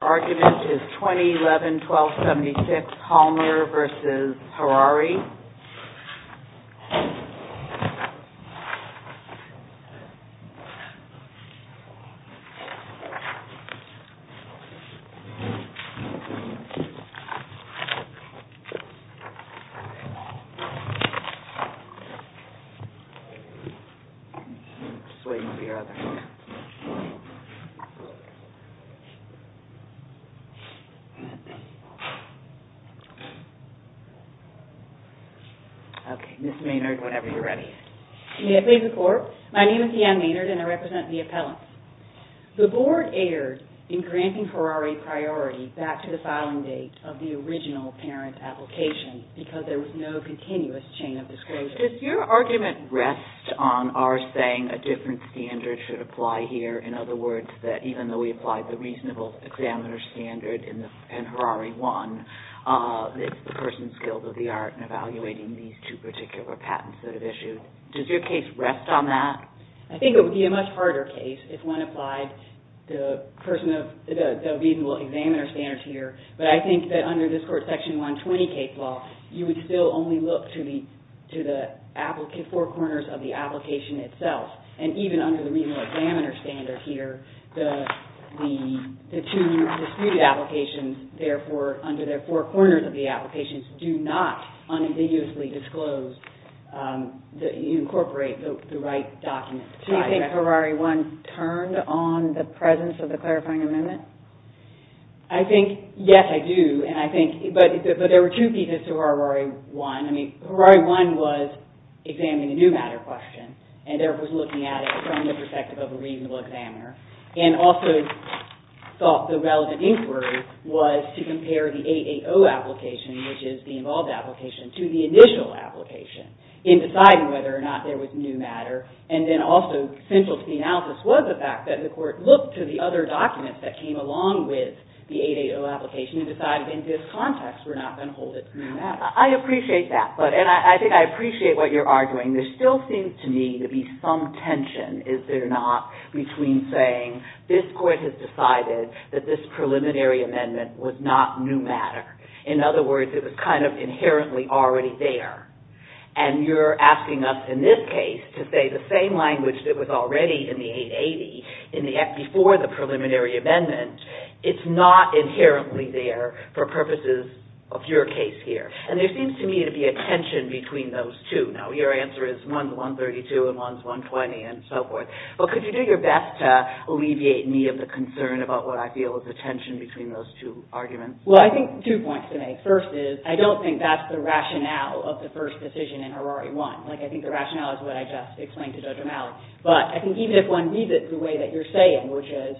The argument is 2011-12-76 HOLLMER v. HARARI. May I please report? My name is Deanne Maynard and I represent the appellants. The Board erred in granting HARARI priority back to the filing date of the original parent application because there was no continuous chain of disclosure. Does your argument rest on our saying a different standard should apply here? In other words, that even though we applied the reasonable examiner standard in HARARI I, it's the person's guilt of the art in evaluating these two particular patents that it issued. Does your case rest on that? I think it would be a much harder case if one applied the reasonable examiner standards here, but I think that under this Court's Section 120 case law, you would still only look to the four corners of the application itself. And even under the reasonable examiner standard here, the two disputed applications, therefore, under the four corners of the applications do not unambiguously disclose that you incorporate the right documents. Do you think HARARI I turned on the presence of the clarifying amendment? I think, yes, I do. But there were two pieces to HARARI I. I mean, HARARI I was examining a new matter question and therefore was looking at it from the perspective of a reasonable examiner, and also thought the relevant inquiry was to compare the 880 application, which is the involved application, to the initial application in deciding whether or not there was new matter. And then also central to the analysis was the fact that the Court looked to the other documents that came along with the 880 application and decided in this context we're not going to hold it to new matter. I appreciate that. And I think I appreciate what you're arguing. There still seems to me to be some tension, is there not, between saying this Court has decided that this preliminary amendment was not new matter. In other words, it was kind of inherently already there. And you're asking us in this case to say the same language that was already in the 880 before the preliminary amendment, it's not inherently there for purposes of your case here. And there seems to me to be a tension between those two. Now, your answer is one's 132 and one's 120 and so forth. But could you do your best to alleviate me of the concern about what I feel is the tension between those two arguments? Well, I think two points to make. First is, I don't think that's the rationale of the first decision in HARARI I. I think the rationale is what I just explained to Judge O'Malley. But I think even if one reads it the way that you're saying, which is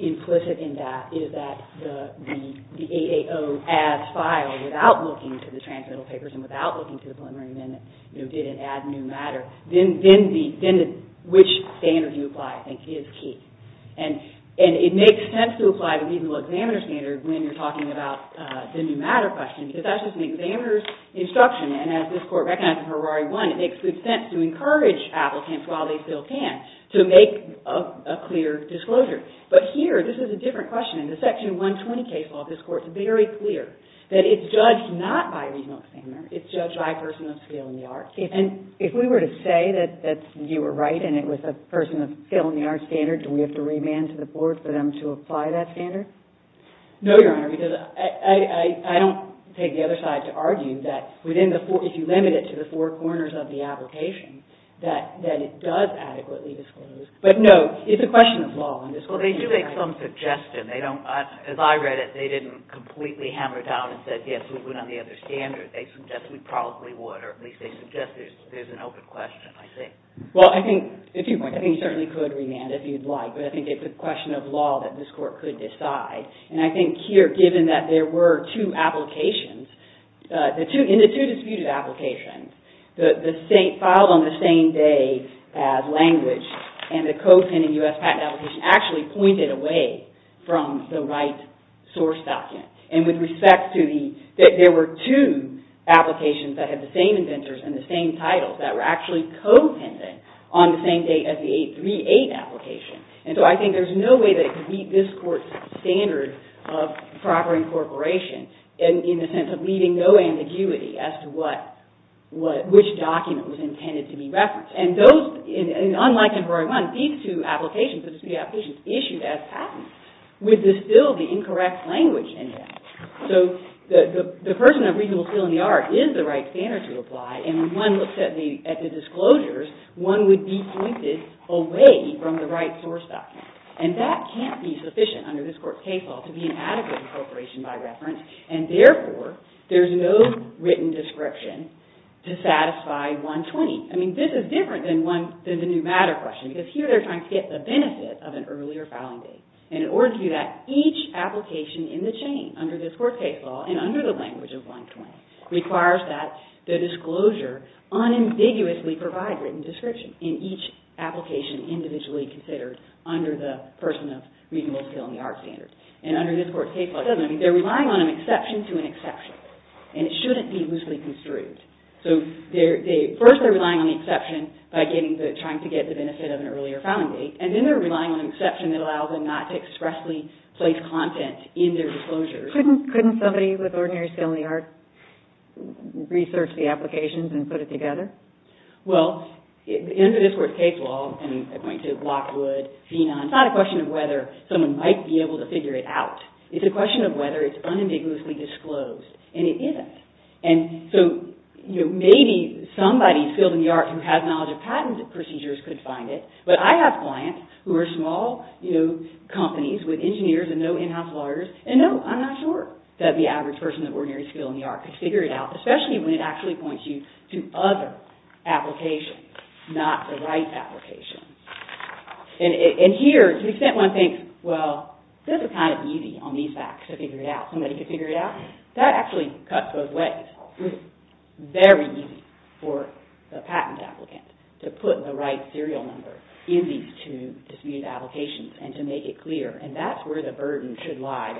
implicit in that, is that the 880 adds file without looking to the transmittal papers and without looking to the preliminary amendment, you know, did it add new matter, then which standard you apply, I think, is key. And it makes sense to apply the reasonable examiner standard when you're talking about the new matter question, because that's just an examiner's instruction. And as this Court recognized in HARARI I, it makes good sense to encourage applicants, while they still can, to make a clear disclosure. But here, this is a different question. In the Section 120 case law, this Court's very clear that it's judged not by a reasonable examiner. It's judged by a person of skill in the arts. And if we were to say that you were right and it was a person of skill in the arts standard, do we have to remand to the court for them to apply that standard? No, Your Honor, because I don't take the other side to argue that if you limit it to the four corners of the application, that it does adequately disclose. But, no, it's a question of law. Well, they do make some suggestion. They don't, as I read it, they didn't completely hammer down and say, yes, we went on the other standard. They suggest we probably would, or at least they suggest there's an open question, I think. Well, I think, if you want, I think you certainly could remand if you'd like. But I think it's a question of law that this Court could decide. And I think here, given that there were two applications, in the two disputed applications, filed on the same day as language, and the co-pending U.S. patent application actually pointed away from the right source document. And with respect to the, there were two applications that had the same inventors and the same titles that were actually co-pending on the same date as the 838 application. And so I think there's no way that it could meet this Court's standard of proper incorporation in the sense of leaving no ambiguity as to what, which document was intended to be referenced. And those, unlike in Veronica, these two applications, the disputed applications, issued as patents, would distill the incorrect language in them. So the person of reasonable feel in the art is the right standard to apply. And when one looks at the disclosures, one would be pointed away from the right source document. And that can't be sufficient under this Court's case law to be an adequate incorporation by reference. And therefore, there's no written description to satisfy 120. I mean, this is different than the new matter question. Because here they're trying to get the benefit of an earlier filing date. And in order to do that, each application in the chain, under this Court's case law and under the language of 120, requires that the disclosure unambiguously provide written description in each application individually considered under the person of reasonable feel in the art standard. And under this Court's case law, it doesn't. I mean, they're relying on an exception to an exception. And it shouldn't be loosely construed. So they, first they're relying on the exception by getting the, trying to get the benefit of an earlier filing date. And then they're relying on an exception that allows them not to expressly place content in their disclosures. Couldn't somebody with ordinary feel in the art research the applications and put it together? Well, under this Court's case law, and I point to Lockwood, Zenon, it's not a question of whether someone might be able to figure it out. It's a question of whether it's unambiguously disclosed. And it isn't. And so, you know, maybe somebody's feel in the art who has knowledge of patent procedures could find it. But I have clients who are small, you know, companies with engineers and no in-house lawyers, and no, I'm not sure that the average person with ordinary feel in the art could figure it out, especially when it actually points you to other applications, not the right application. And here, to the extent one thinks, well, this is kind of easy on these facts to figure it out. Somebody could figure it out. That actually cuts both ways. It's very easy for the patent applicant to put the right serial number in these two disputed applications and to make it clear. And that's where the burden should lie.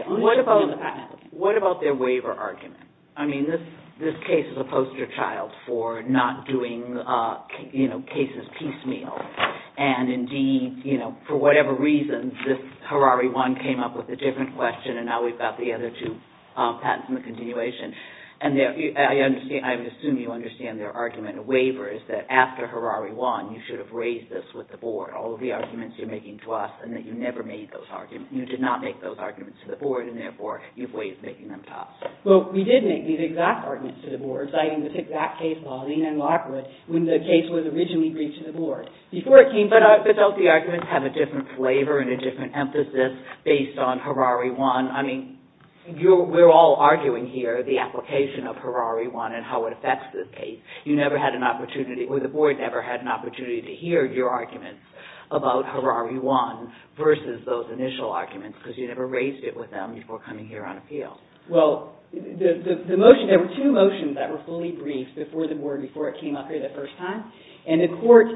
What about their waiver argument? I mean, this case is a poster child for not doing, you know, cases piecemeal. And indeed, you know, for whatever reason, this Harari 1 came up with a different question, and now we've got the other two patents in the continuation. And I assume you understand their argument of waiver is that after Harari 1, you should have raised this with the board, all of the arguments you're making to us, and that you never made those arguments. You did not make those arguments to the board, and therefore, you've waived making them to us. Well, we did make these exact arguments to the board, citing this exact case, Pauline and Lockwood, when the case was originally briefed to the board. Before it came to us... But don't the arguments have a different flavor and a different emphasis based on Harari 1? I mean, we're all arguing here the application of Harari 1 and how it affects this case. You never had an opportunity, or the board never had an opportunity to hear your arguments about Harari 1 versus those initial arguments, because you never raised it with them before coming here on appeal. Well, the motion, there were two motions that were fully briefed before the board, before it came up here the first time. And the court,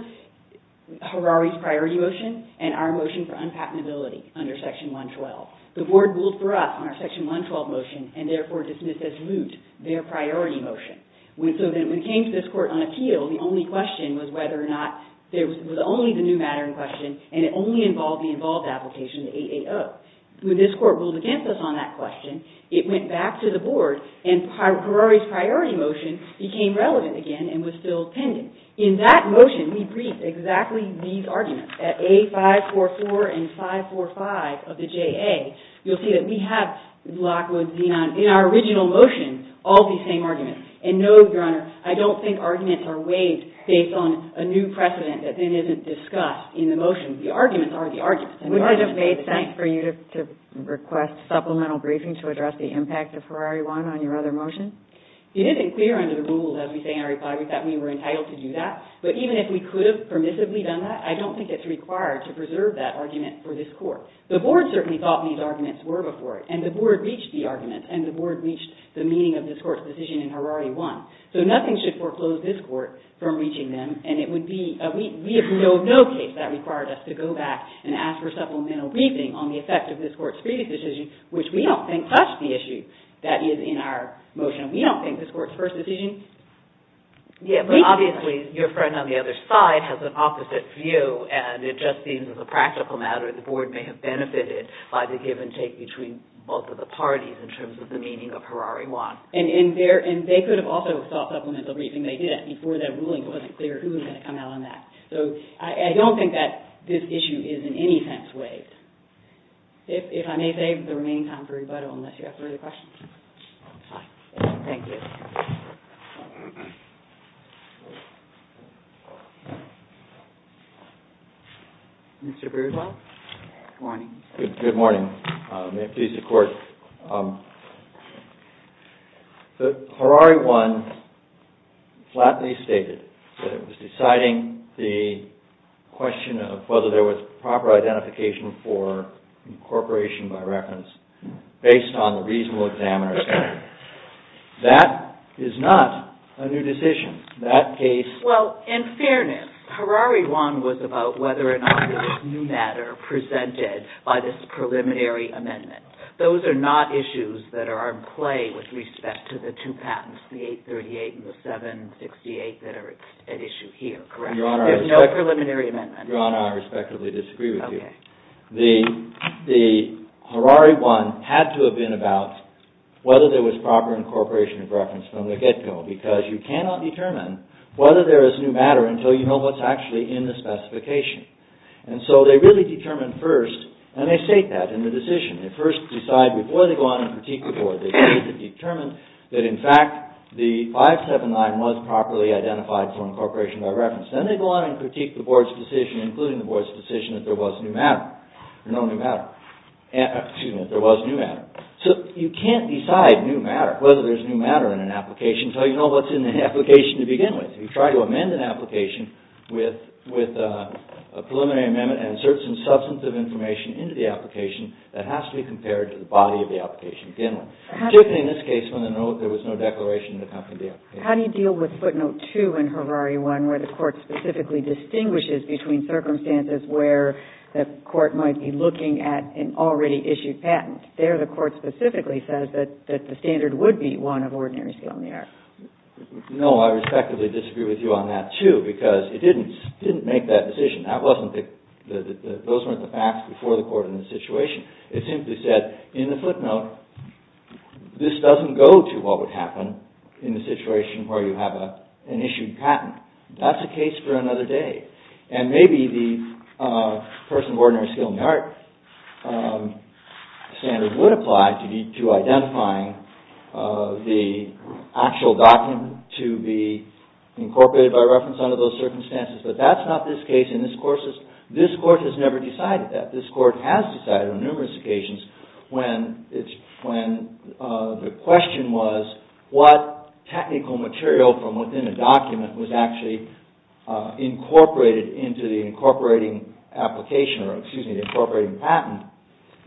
Harari's priority motion and our motion for unpatentability under Section 112. The board ruled for us on our Section 112 motion and therefore dismissed as moot their priority motion. So then, when it came to this court on appeal, the only question was whether or not, it was only the new matter in question, and it only involved the involved application, the 8-8-0. When this court ruled against us on that question, it went back to the board, and Harari's priority motion became relevant again and was still pending. In that motion, we briefed exactly these arguments. At A544 and 545 of the JA, you'll see that we have Lockwood's Z-9, in our original motion, all these same arguments. And no, Your Honor, I don't think arguments are waived based on a new precedent that then isn't discussed in the motion. The arguments are the arguments. And would I have made sense for you to request supplemental briefing to address the impact of Harari 1 on your other motion? It isn't clear under the rules, as we say in our reply, that we were entitled to do that. But even if we could have permissibly done that, I don't think it's required to preserve that argument for this court. The board certainly thought these arguments were before, and the board reached the argument, and the board reached the meaning of this court's decision in Harari 1. So nothing should foreclose this court from reaching them, and it would be – we have no case that required us to go back and ask for supplemental briefing on the effect of this court's previous decision, which we don't think touched the issue that is in our motion. We don't think this court's first decision – Yeah, but obviously, your friend on the other side has an opposite view, and it just seems a practical matter. The board may have benefited by the give and take between both of the parties in terms of the meaning of Harari 1. And they could have also sought supplemental briefing. They didn't. Before that ruling, it wasn't clear who was going to come out on that. So I don't think that this issue is in any sense waived. If I may save the remaining time for rebuttal, unless you have further questions. Thank you. Mr. Burdwell? Good morning. Good morning. May it please the court. Harari 1 flatly stated that it was deciding the question of whether there was proper identification for incorporation by reference based on the reasonable examiner's opinion. That is not a new decision. That case – Well, in fairness, Harari 1 was about whether or not there was new matter presented by this preliminary amendment. Those are not issues that are in play with respect to the two patents, the 838 and the 768 that are at issue here, correct? Your Honor, I respectfully disagree with you. Okay. The Harari 1 had to have been about whether there was proper incorporation of reference from the get-go, because you cannot determine whether there is new matter until you know what's actually in the specification. And so they really determine first, and they state that in the decision. They first decide before they go on and critique the board. They first determine that in fact the 579 was properly identified for incorporation by reference. Then they go on and critique the board's decision, including the board's decision that there was new matter. No new matter. Excuse me, there was new matter. So you can't decide whether there's new matter in an application until you know what's in the application to begin with. You try to amend an application with a preliminary amendment and insert some substantive information into the application that has to be compared to the body of the application. Particularly in this case when there was no declaration in the company. How do you deal with footnote 2 in Harari 1, where the court specifically distinguishes between circumstances where the court might be looking at an already issued patent? There the court specifically says that the standard would be one of ordinary skill in the art. No, I respectively disagree with you on that too, because it didn't make that decision. Those weren't the facts before the court in the situation. It simply said in the footnote this doesn't go to what would happen in the situation where you have an issued patent. That's a case for another day. And maybe the person of ordinary skill in the art standard would apply to identifying the actual document to be incorporated by reference under those circumstances. But that's not this case and this court has never decided that. This court has decided on numerous occasions when the question was what technical material from within a document was actually incorporated into the incorporating application or excuse me, the incorporating patent.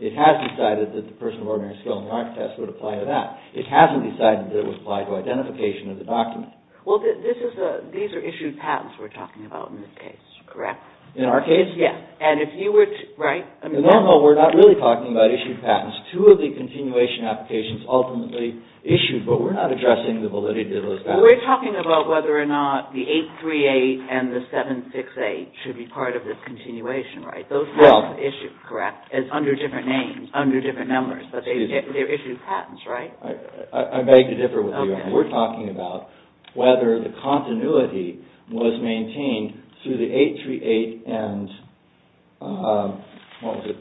It has decided that the person of ordinary skill in the art test would apply to that. It hasn't decided that it would apply to identification of the document. Well, these are issued patents we're talking about in this case, correct? In our case? Yes. Right? No, no, we're not really talking about issued patents. Two of the continuation applications ultimately issued, but we're not addressing the validity of those patents. We're talking about whether or not the 838 and the 768 should be part of the continuation, right? Those two are issued, correct, under different names, under different numbers, but they're issued patents, right? I beg to differ with you. We're talking about whether the continuity was maintained through the 838 and what was it,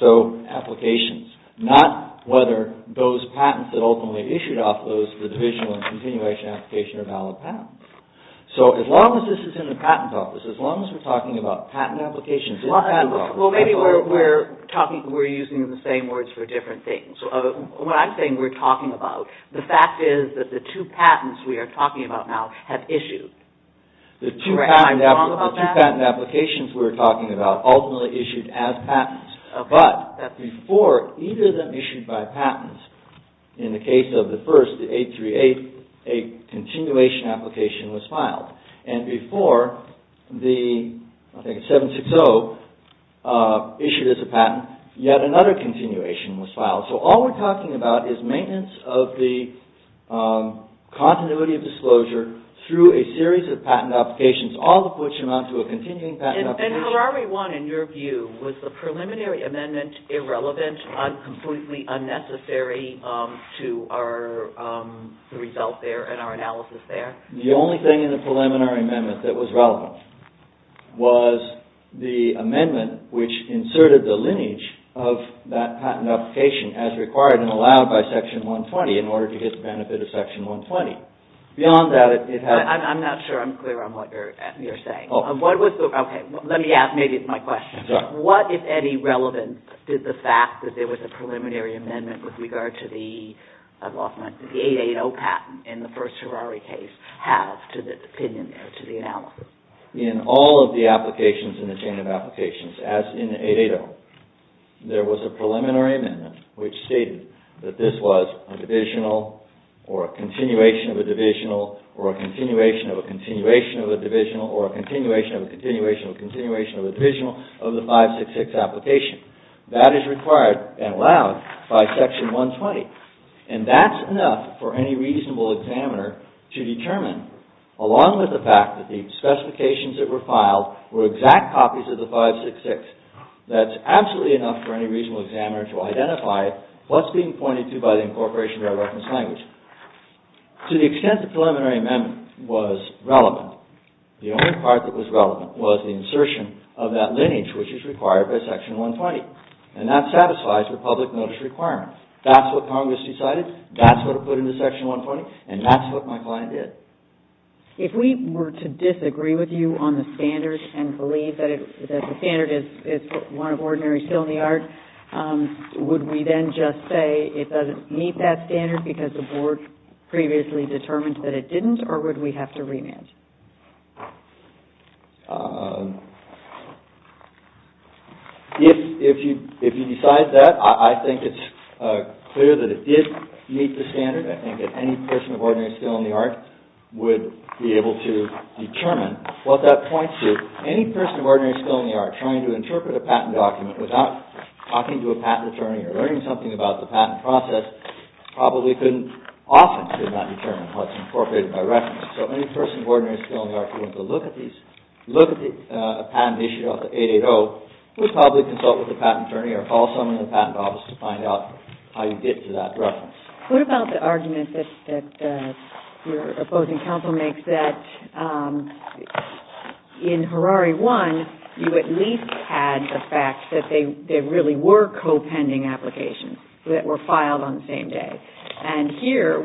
so applications. Not whether those patents that ultimately issued off those, the divisional and continuation application are valid patents. So, as long as this is in the patent office, as long as we're talking about patent applications in the patent office... Well, maybe we're using the same words for different things. What I'm saying we're talking about, the fact is that the two patents we are talking about now have issued. The two patent applications we're talking about ultimately issued as patents, but before either of them issued by patents, in the case of the first, the 838, a continuation application was filed. And before the, I think it's 760, issued as a patent, yet another continuation was filed. So, all we're talking about is maintenance of the continuity of disclosure through a series of patent applications, all of which amount to a continuing patent application. And Harari 1, in your view, was the preliminary amendment irrelevant, completely unnecessary to our result there and our analysis there? The only thing in the preliminary amendment that was relevant was the amendment which inserted the lineage of that patent application as required and allowed by Section 120 in order to get the benefit of Section 120. Beyond that, it had... I'm not sure I'm clear on what you're saying. Let me ask, maybe it's my question. What, if any, relevance did the fact that there was a preliminary amendment with regard to the 880 patent in the first Harari case have to the opinion there, to the analysis? In all of the applications in the chain of applications, as in 880, there was a preliminary amendment which stated that this was a divisional or a continuation of a divisional or a continuation of a continuation of a divisional or a continuation of a continuation of a continuation of a divisional of the 566 application. That is required and allowed by Section 120. And that's enough for any reasonable examiner to determine, along with the fact that the specifications that were filed were exact copies of the 566, that's absolutely enough for any reasonable examiner to identify what's being pointed to by the incorporation of a reference language. To the extent the preliminary amendment was relevant, the only part that was relevant was the insertion of that lineage which is required by Section 120. And that satisfies the public notice requirement. That's what Congress decided, that's what it put into Section 120, and that's what my client did. If we were to disagree with you on the standards and believe that the standard is one of ordinary skill in the art, would we then just say it doesn't meet that standard because the Board previously determined that it didn't, or would we have to remand? If you decide that, I think it's clear that it did meet the standard. I think that any person of ordinary skill in the art would be able to determine what that points to. Any person of ordinary skill in the art trying to interpret a patent document without talking to a patent attorney or learning something about the patent process probably couldn't often determine what's incorporated by reference. So any person of ordinary skill in the art who went to look at a patent issued off the 880 would probably consult with a patent attorney or call someone in the patent office to find out how you get to that reference. What about the argument that your opposing counsel makes that in Harare 1, you at least had the fact that there really were co-pending applications that were filed on the same day? And here,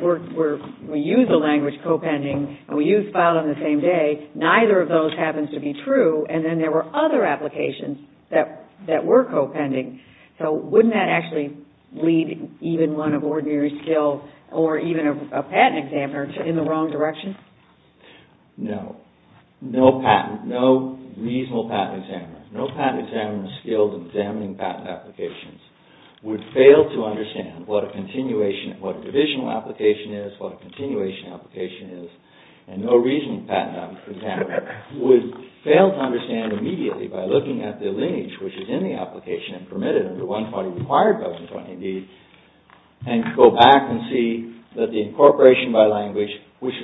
we use the language co-pending, and we use filed on the same day. Neither of those happens to be true, and then there were other applications that were co-pending. So wouldn't that actually lead even one of ordinary skill or even a patent examiner in the wrong direction? No. No patent, no reasonable patent examiner, no patent examiner skilled in examining patent applications would fail to understand what a continuation, what a divisional application is, what a continuation application is, and no reasonable patent examiner would fail to understand what a continuation application is, what a divisional application is, and go back and see that the incorporation by language, which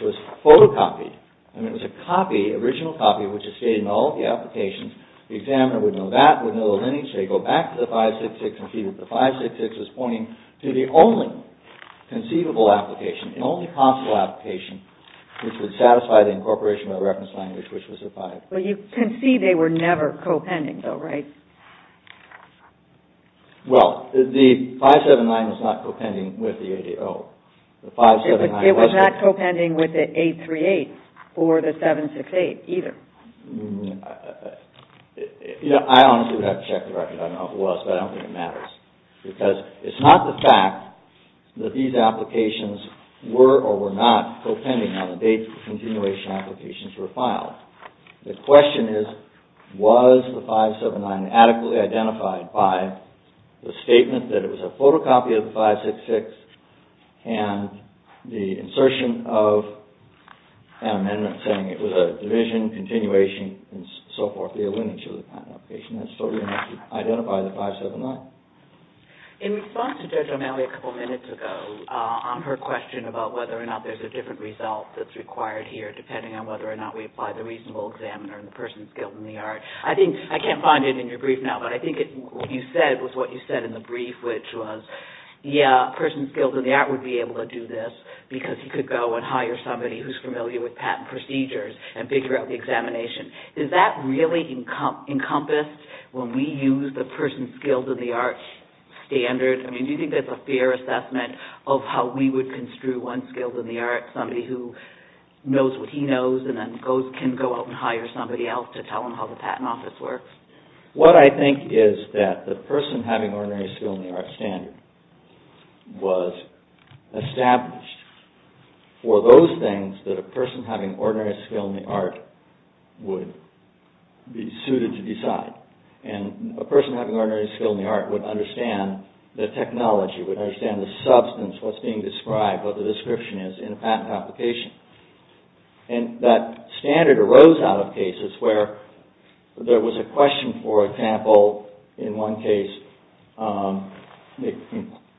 was photocopied, and it was a copy, original copy, which is stated in all the applications, the examiner would know that, would know the lineage, so you go back to the 566 and see that the 566 is pointing to the only conceivable application, the only possible application, which would satisfy the incorporation by reference language, which was the 566. Well, you can see they were never co-pending though, right? Well, the 579 was not co-pending with the 880. It was not co-pending with the 838 or the 768 either. I honestly would have to check the record. I don't know who else, but I don't think it matters because it's not the fact that these applications were or were not co-pending on date the continuation applications were filed. The question is, was the 579 adequately identified by the statement that it was a photocopy of the 566 and the insertion of an amendment saying it was a division, continuation, and so forth, the lineage of the kind of application. That's totally enough to identify the 579. In response to Judge O'Malley a couple minutes ago on her question about whether or not there's a different result that's required here depending on whether or not we apply the reasonable examiner and the person skilled in the art. I can't find it in your brief now, but I think what you said was what you said in the brief, which was, yeah, a person skilled in the art would be able to do this because he could go and hire somebody who's familiar with patent procedures and figure out the examination. Does that really encompass when we use the person skilled in the art standard? Do you think that's a fair assessment of how we would construe one skilled in the art, somebody who knows what he knows and then can go out and hire somebody else to tell him how the patent office works? What I think is that the person having ordinary skill in the art standard was established for those things that a person having ordinary skill in the art would be suited to decide. A person having ordinary skill in the art would understand the technology, would understand the substance, what's being described, what the description is in a patent application. That standard arose out of cases where there was a question, for example, in one case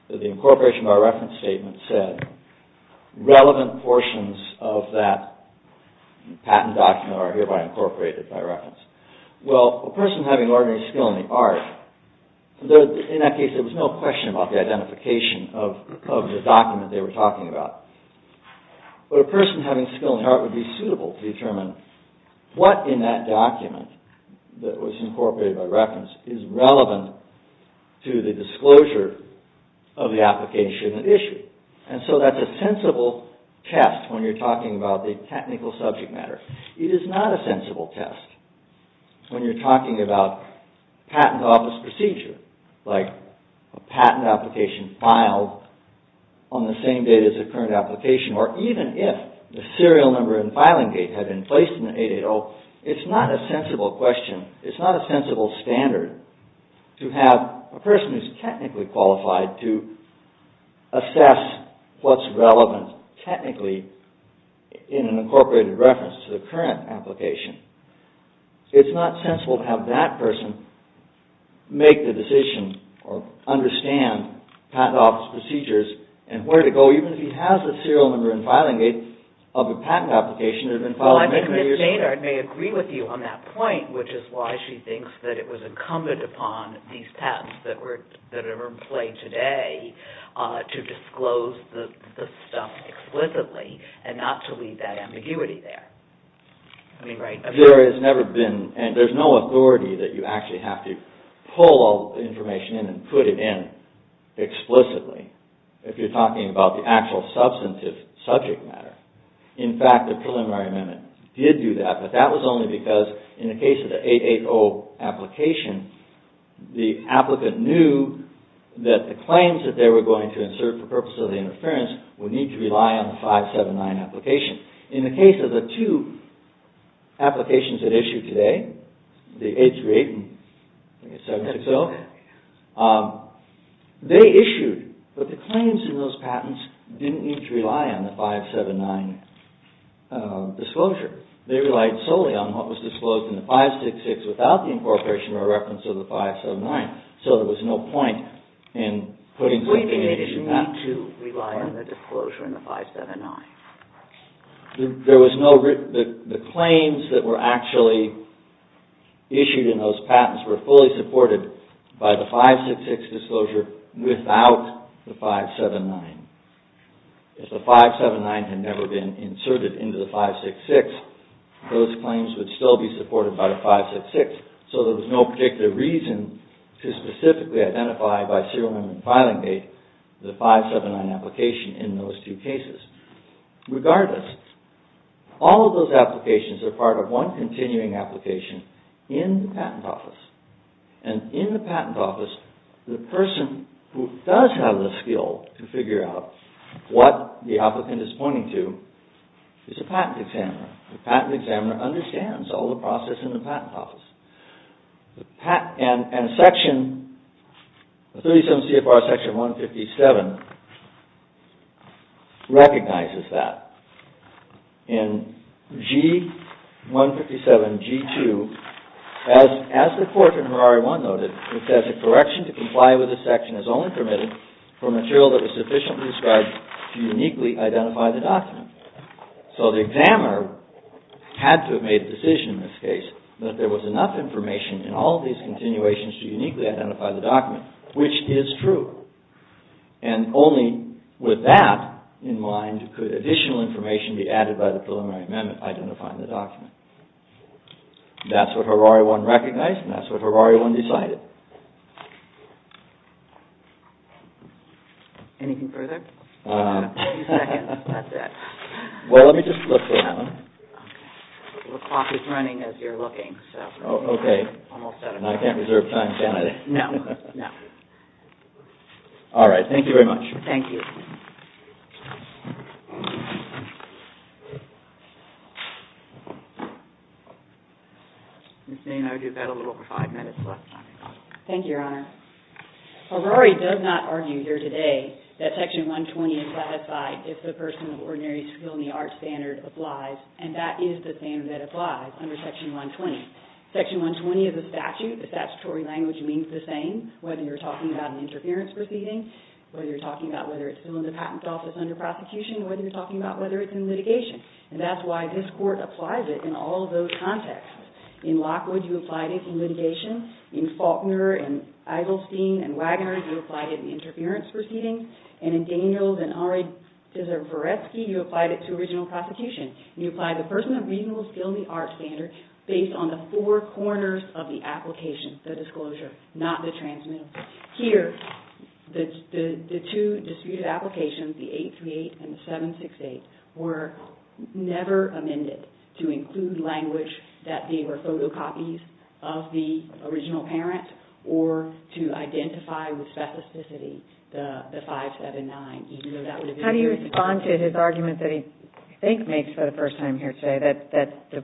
the incorporation by reference statement said relevant portions of that patent document are hereby incorporated by reference. Well, a person having ordinary skill in the art, in that case, there was no question about the identification of the document they were talking about. But a person having skill in the art would be suitable to determine what in that document that was incorporated by reference is relevant to the disclosure of the application at issue. And so that's a sensible test when you're talking about the technical subject matter. It is not a sensible test when you're talking about patent office procedure like a patent application filed on the same date as the current application or even if the serial number and filing date had been placed in the 880. It's not a sensible question. It's not a sensible standard to have a person who's technically qualified to assess what's relevant technically in an incorporated reference to the current application. It's not sensible to have that person make the decision or understand patent office procedures and where to go even if he has a serial number and filing date of a patent application that had been filed many years ago. Well, I think Ms. Jaynard may agree with you on that point, which is why she thinks that it was incumbent upon these patents that are in play today to disclose the stuff explicitly and not to leave that ambiguity there. I mean, right. There has never been and there's no authority that you actually have to pull all the information in and put it in explicitly if you're talking about the actual substantive subject matter. In fact, the preliminary amendment did do that, but that was only because in the case of the 880 application, the applicant knew that the claims that they were going to insert for purposes of the interference would need to rely on the 579 application. In the case of the two applications that issued today, the 838 and 760, they issued, but the claims in those patents didn't need to rely on the 579 disclosure. They relied solely on what was disclosed in the 566 without the incorporation or reference of the 579, so there was no point in putting something in each patent. They didn't need to rely on the disclosure in the 579. The claims that were actually issued in those patents were fully supported by the 566 disclosure without the 579. If the 579 had never been inserted into the 566, those claims would still be supported by the 566, so there was no particular reason to specifically identify by serial number and filing date the 579 application in those two cases. Regardless, all of those applications are part of one continuing application in the patent office, and in the patent office, the person who does have the skill to figure out what the applicant is pointing to is a patent examiner. The patent examiner understands all the process in the patent office. And Section 37 CFR Section 157 recognizes that. In G157, G2, as the court in Ferrari 1 noted, it says, a correction to comply with this section is only permitted for material that is sufficiently described to uniquely identify the document. So the examiner had to have made a decision in this case that there was enough information in all of these continuations to uniquely identify the document, which is true. And only with that in mind could additional information be added by the preliminary amendment identifying the document. That's what Ferrari 1 recognized, and that's what Ferrari 1 decided. Anything further? A few seconds. That's it. Well, let me just look around. The clock is running as you're looking. Oh, OK. Almost out of time. I can't reserve time, can I? No. No. All right. Thank you very much. Thank you. Ms. Maynard, you've got a little over five minutes left. Thank you, Your Honor. Ferrari does not argue here today that Section 120 is ratified if the person with ordinary skill and the arts standard applies. And that is the standard that applies under Section 120. Section 120 is a statute. The statutory language means the same, whether you're talking about an interference proceeding, whether you're talking about whether it's still in the Patent Office under prosecution, whether you're talking about whether it's in litigation. And that's why this court applies it in all of those contexts. In Lockwood, you applied it in litigation. In Faulkner, and Eiselstein, and Wagner, you applied it in interference proceedings. And in Daniels and Aradziszewski, you applied it to original prosecution. You applied the person with reasonable skill and the arts standard based on the four corners of the application, the disclosure, not the transmittal. Here, the two disputed applications, the 838 and the 768, were never amended to include language that they were photocopies of the original parent or to identify with specificity the 579, even though that would have been his argument that he, I think, makes for the first time here today, that the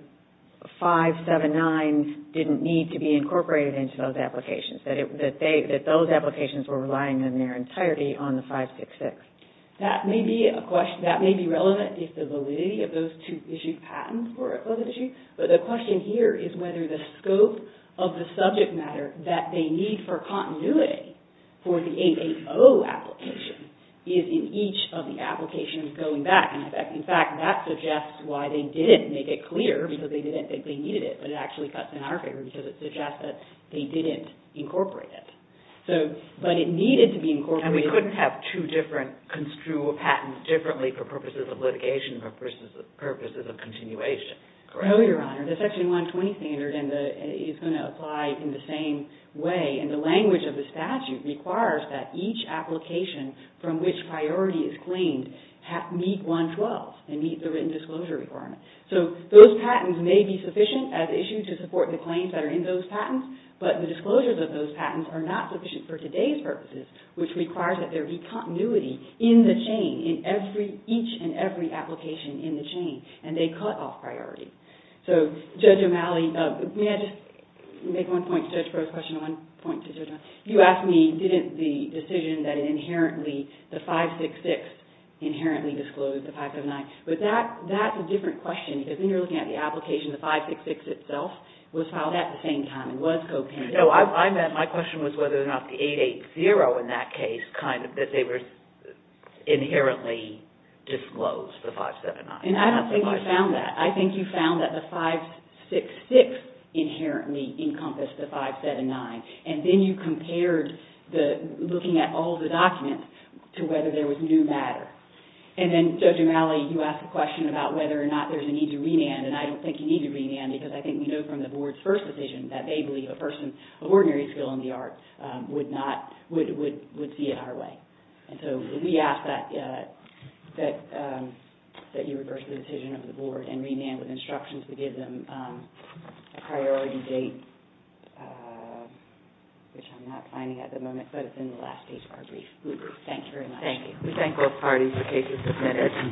579s didn't need to be incorporated into those applications, that those applications were relying on their entirety on the 566. That may be relevant if the validity of those two issued patents were of issue, but the question here is whether the scope of the subject matter that they need for continuity for the 880 application is in each of the applications going back. In fact, that suggests why they didn't make it clear because they didn't think they needed it, but it actually cuts in our favor because it suggests that they didn't incorporate it. So, but it needed to be incorporated. And we couldn't have two different, construe a patent differently for purposes of litigation versus purposes of continuation, correct? No, Your Honor. The Section 120 standard is going to apply in the same way, and the language of the statute requires that each application from which priority is claimed meet 112 and meet the written disclosure requirement. So, those patents may be sufficient as issued to support the claims that are in those patents, but the disclosures of those patents are not sufficient for today's purposes, which requires that there be continuity in the chain, in every, each and every application in the chain, and they cut off priority. So, Judge O'Malley, may I just make one point to Judge Crow's question and one point to Judge O'Malley? You asked me, didn't the decision that inherently, the 566 inherently disclosed the 579, but that's a different question because then you're looking at the application, the 566 itself was filed at the same time, it was co-painted. No, I meant, my question was whether or not the 880 in that case, kind of, that they were inherently disclosed, the 579. And I don't think you found that. I think you found that the 566 inherently encompassed the 579, and then you compared the looking at all the documents to whether there was new matter. And then, Judge O'Malley, you asked a question about whether or not there's a need to remand, and I don't think you need to remand because I think we know from the Board's first decision that they believe a person of ordinary skill in the arts would not, would see it our way. And so, we ask that you reverse the decision of the Board and remand with instructions to give them a priority date, which I'm not finding at the moment, but it's in the last page of our brief. Thank you very much. Thank you. We thank both parties for cases submitted.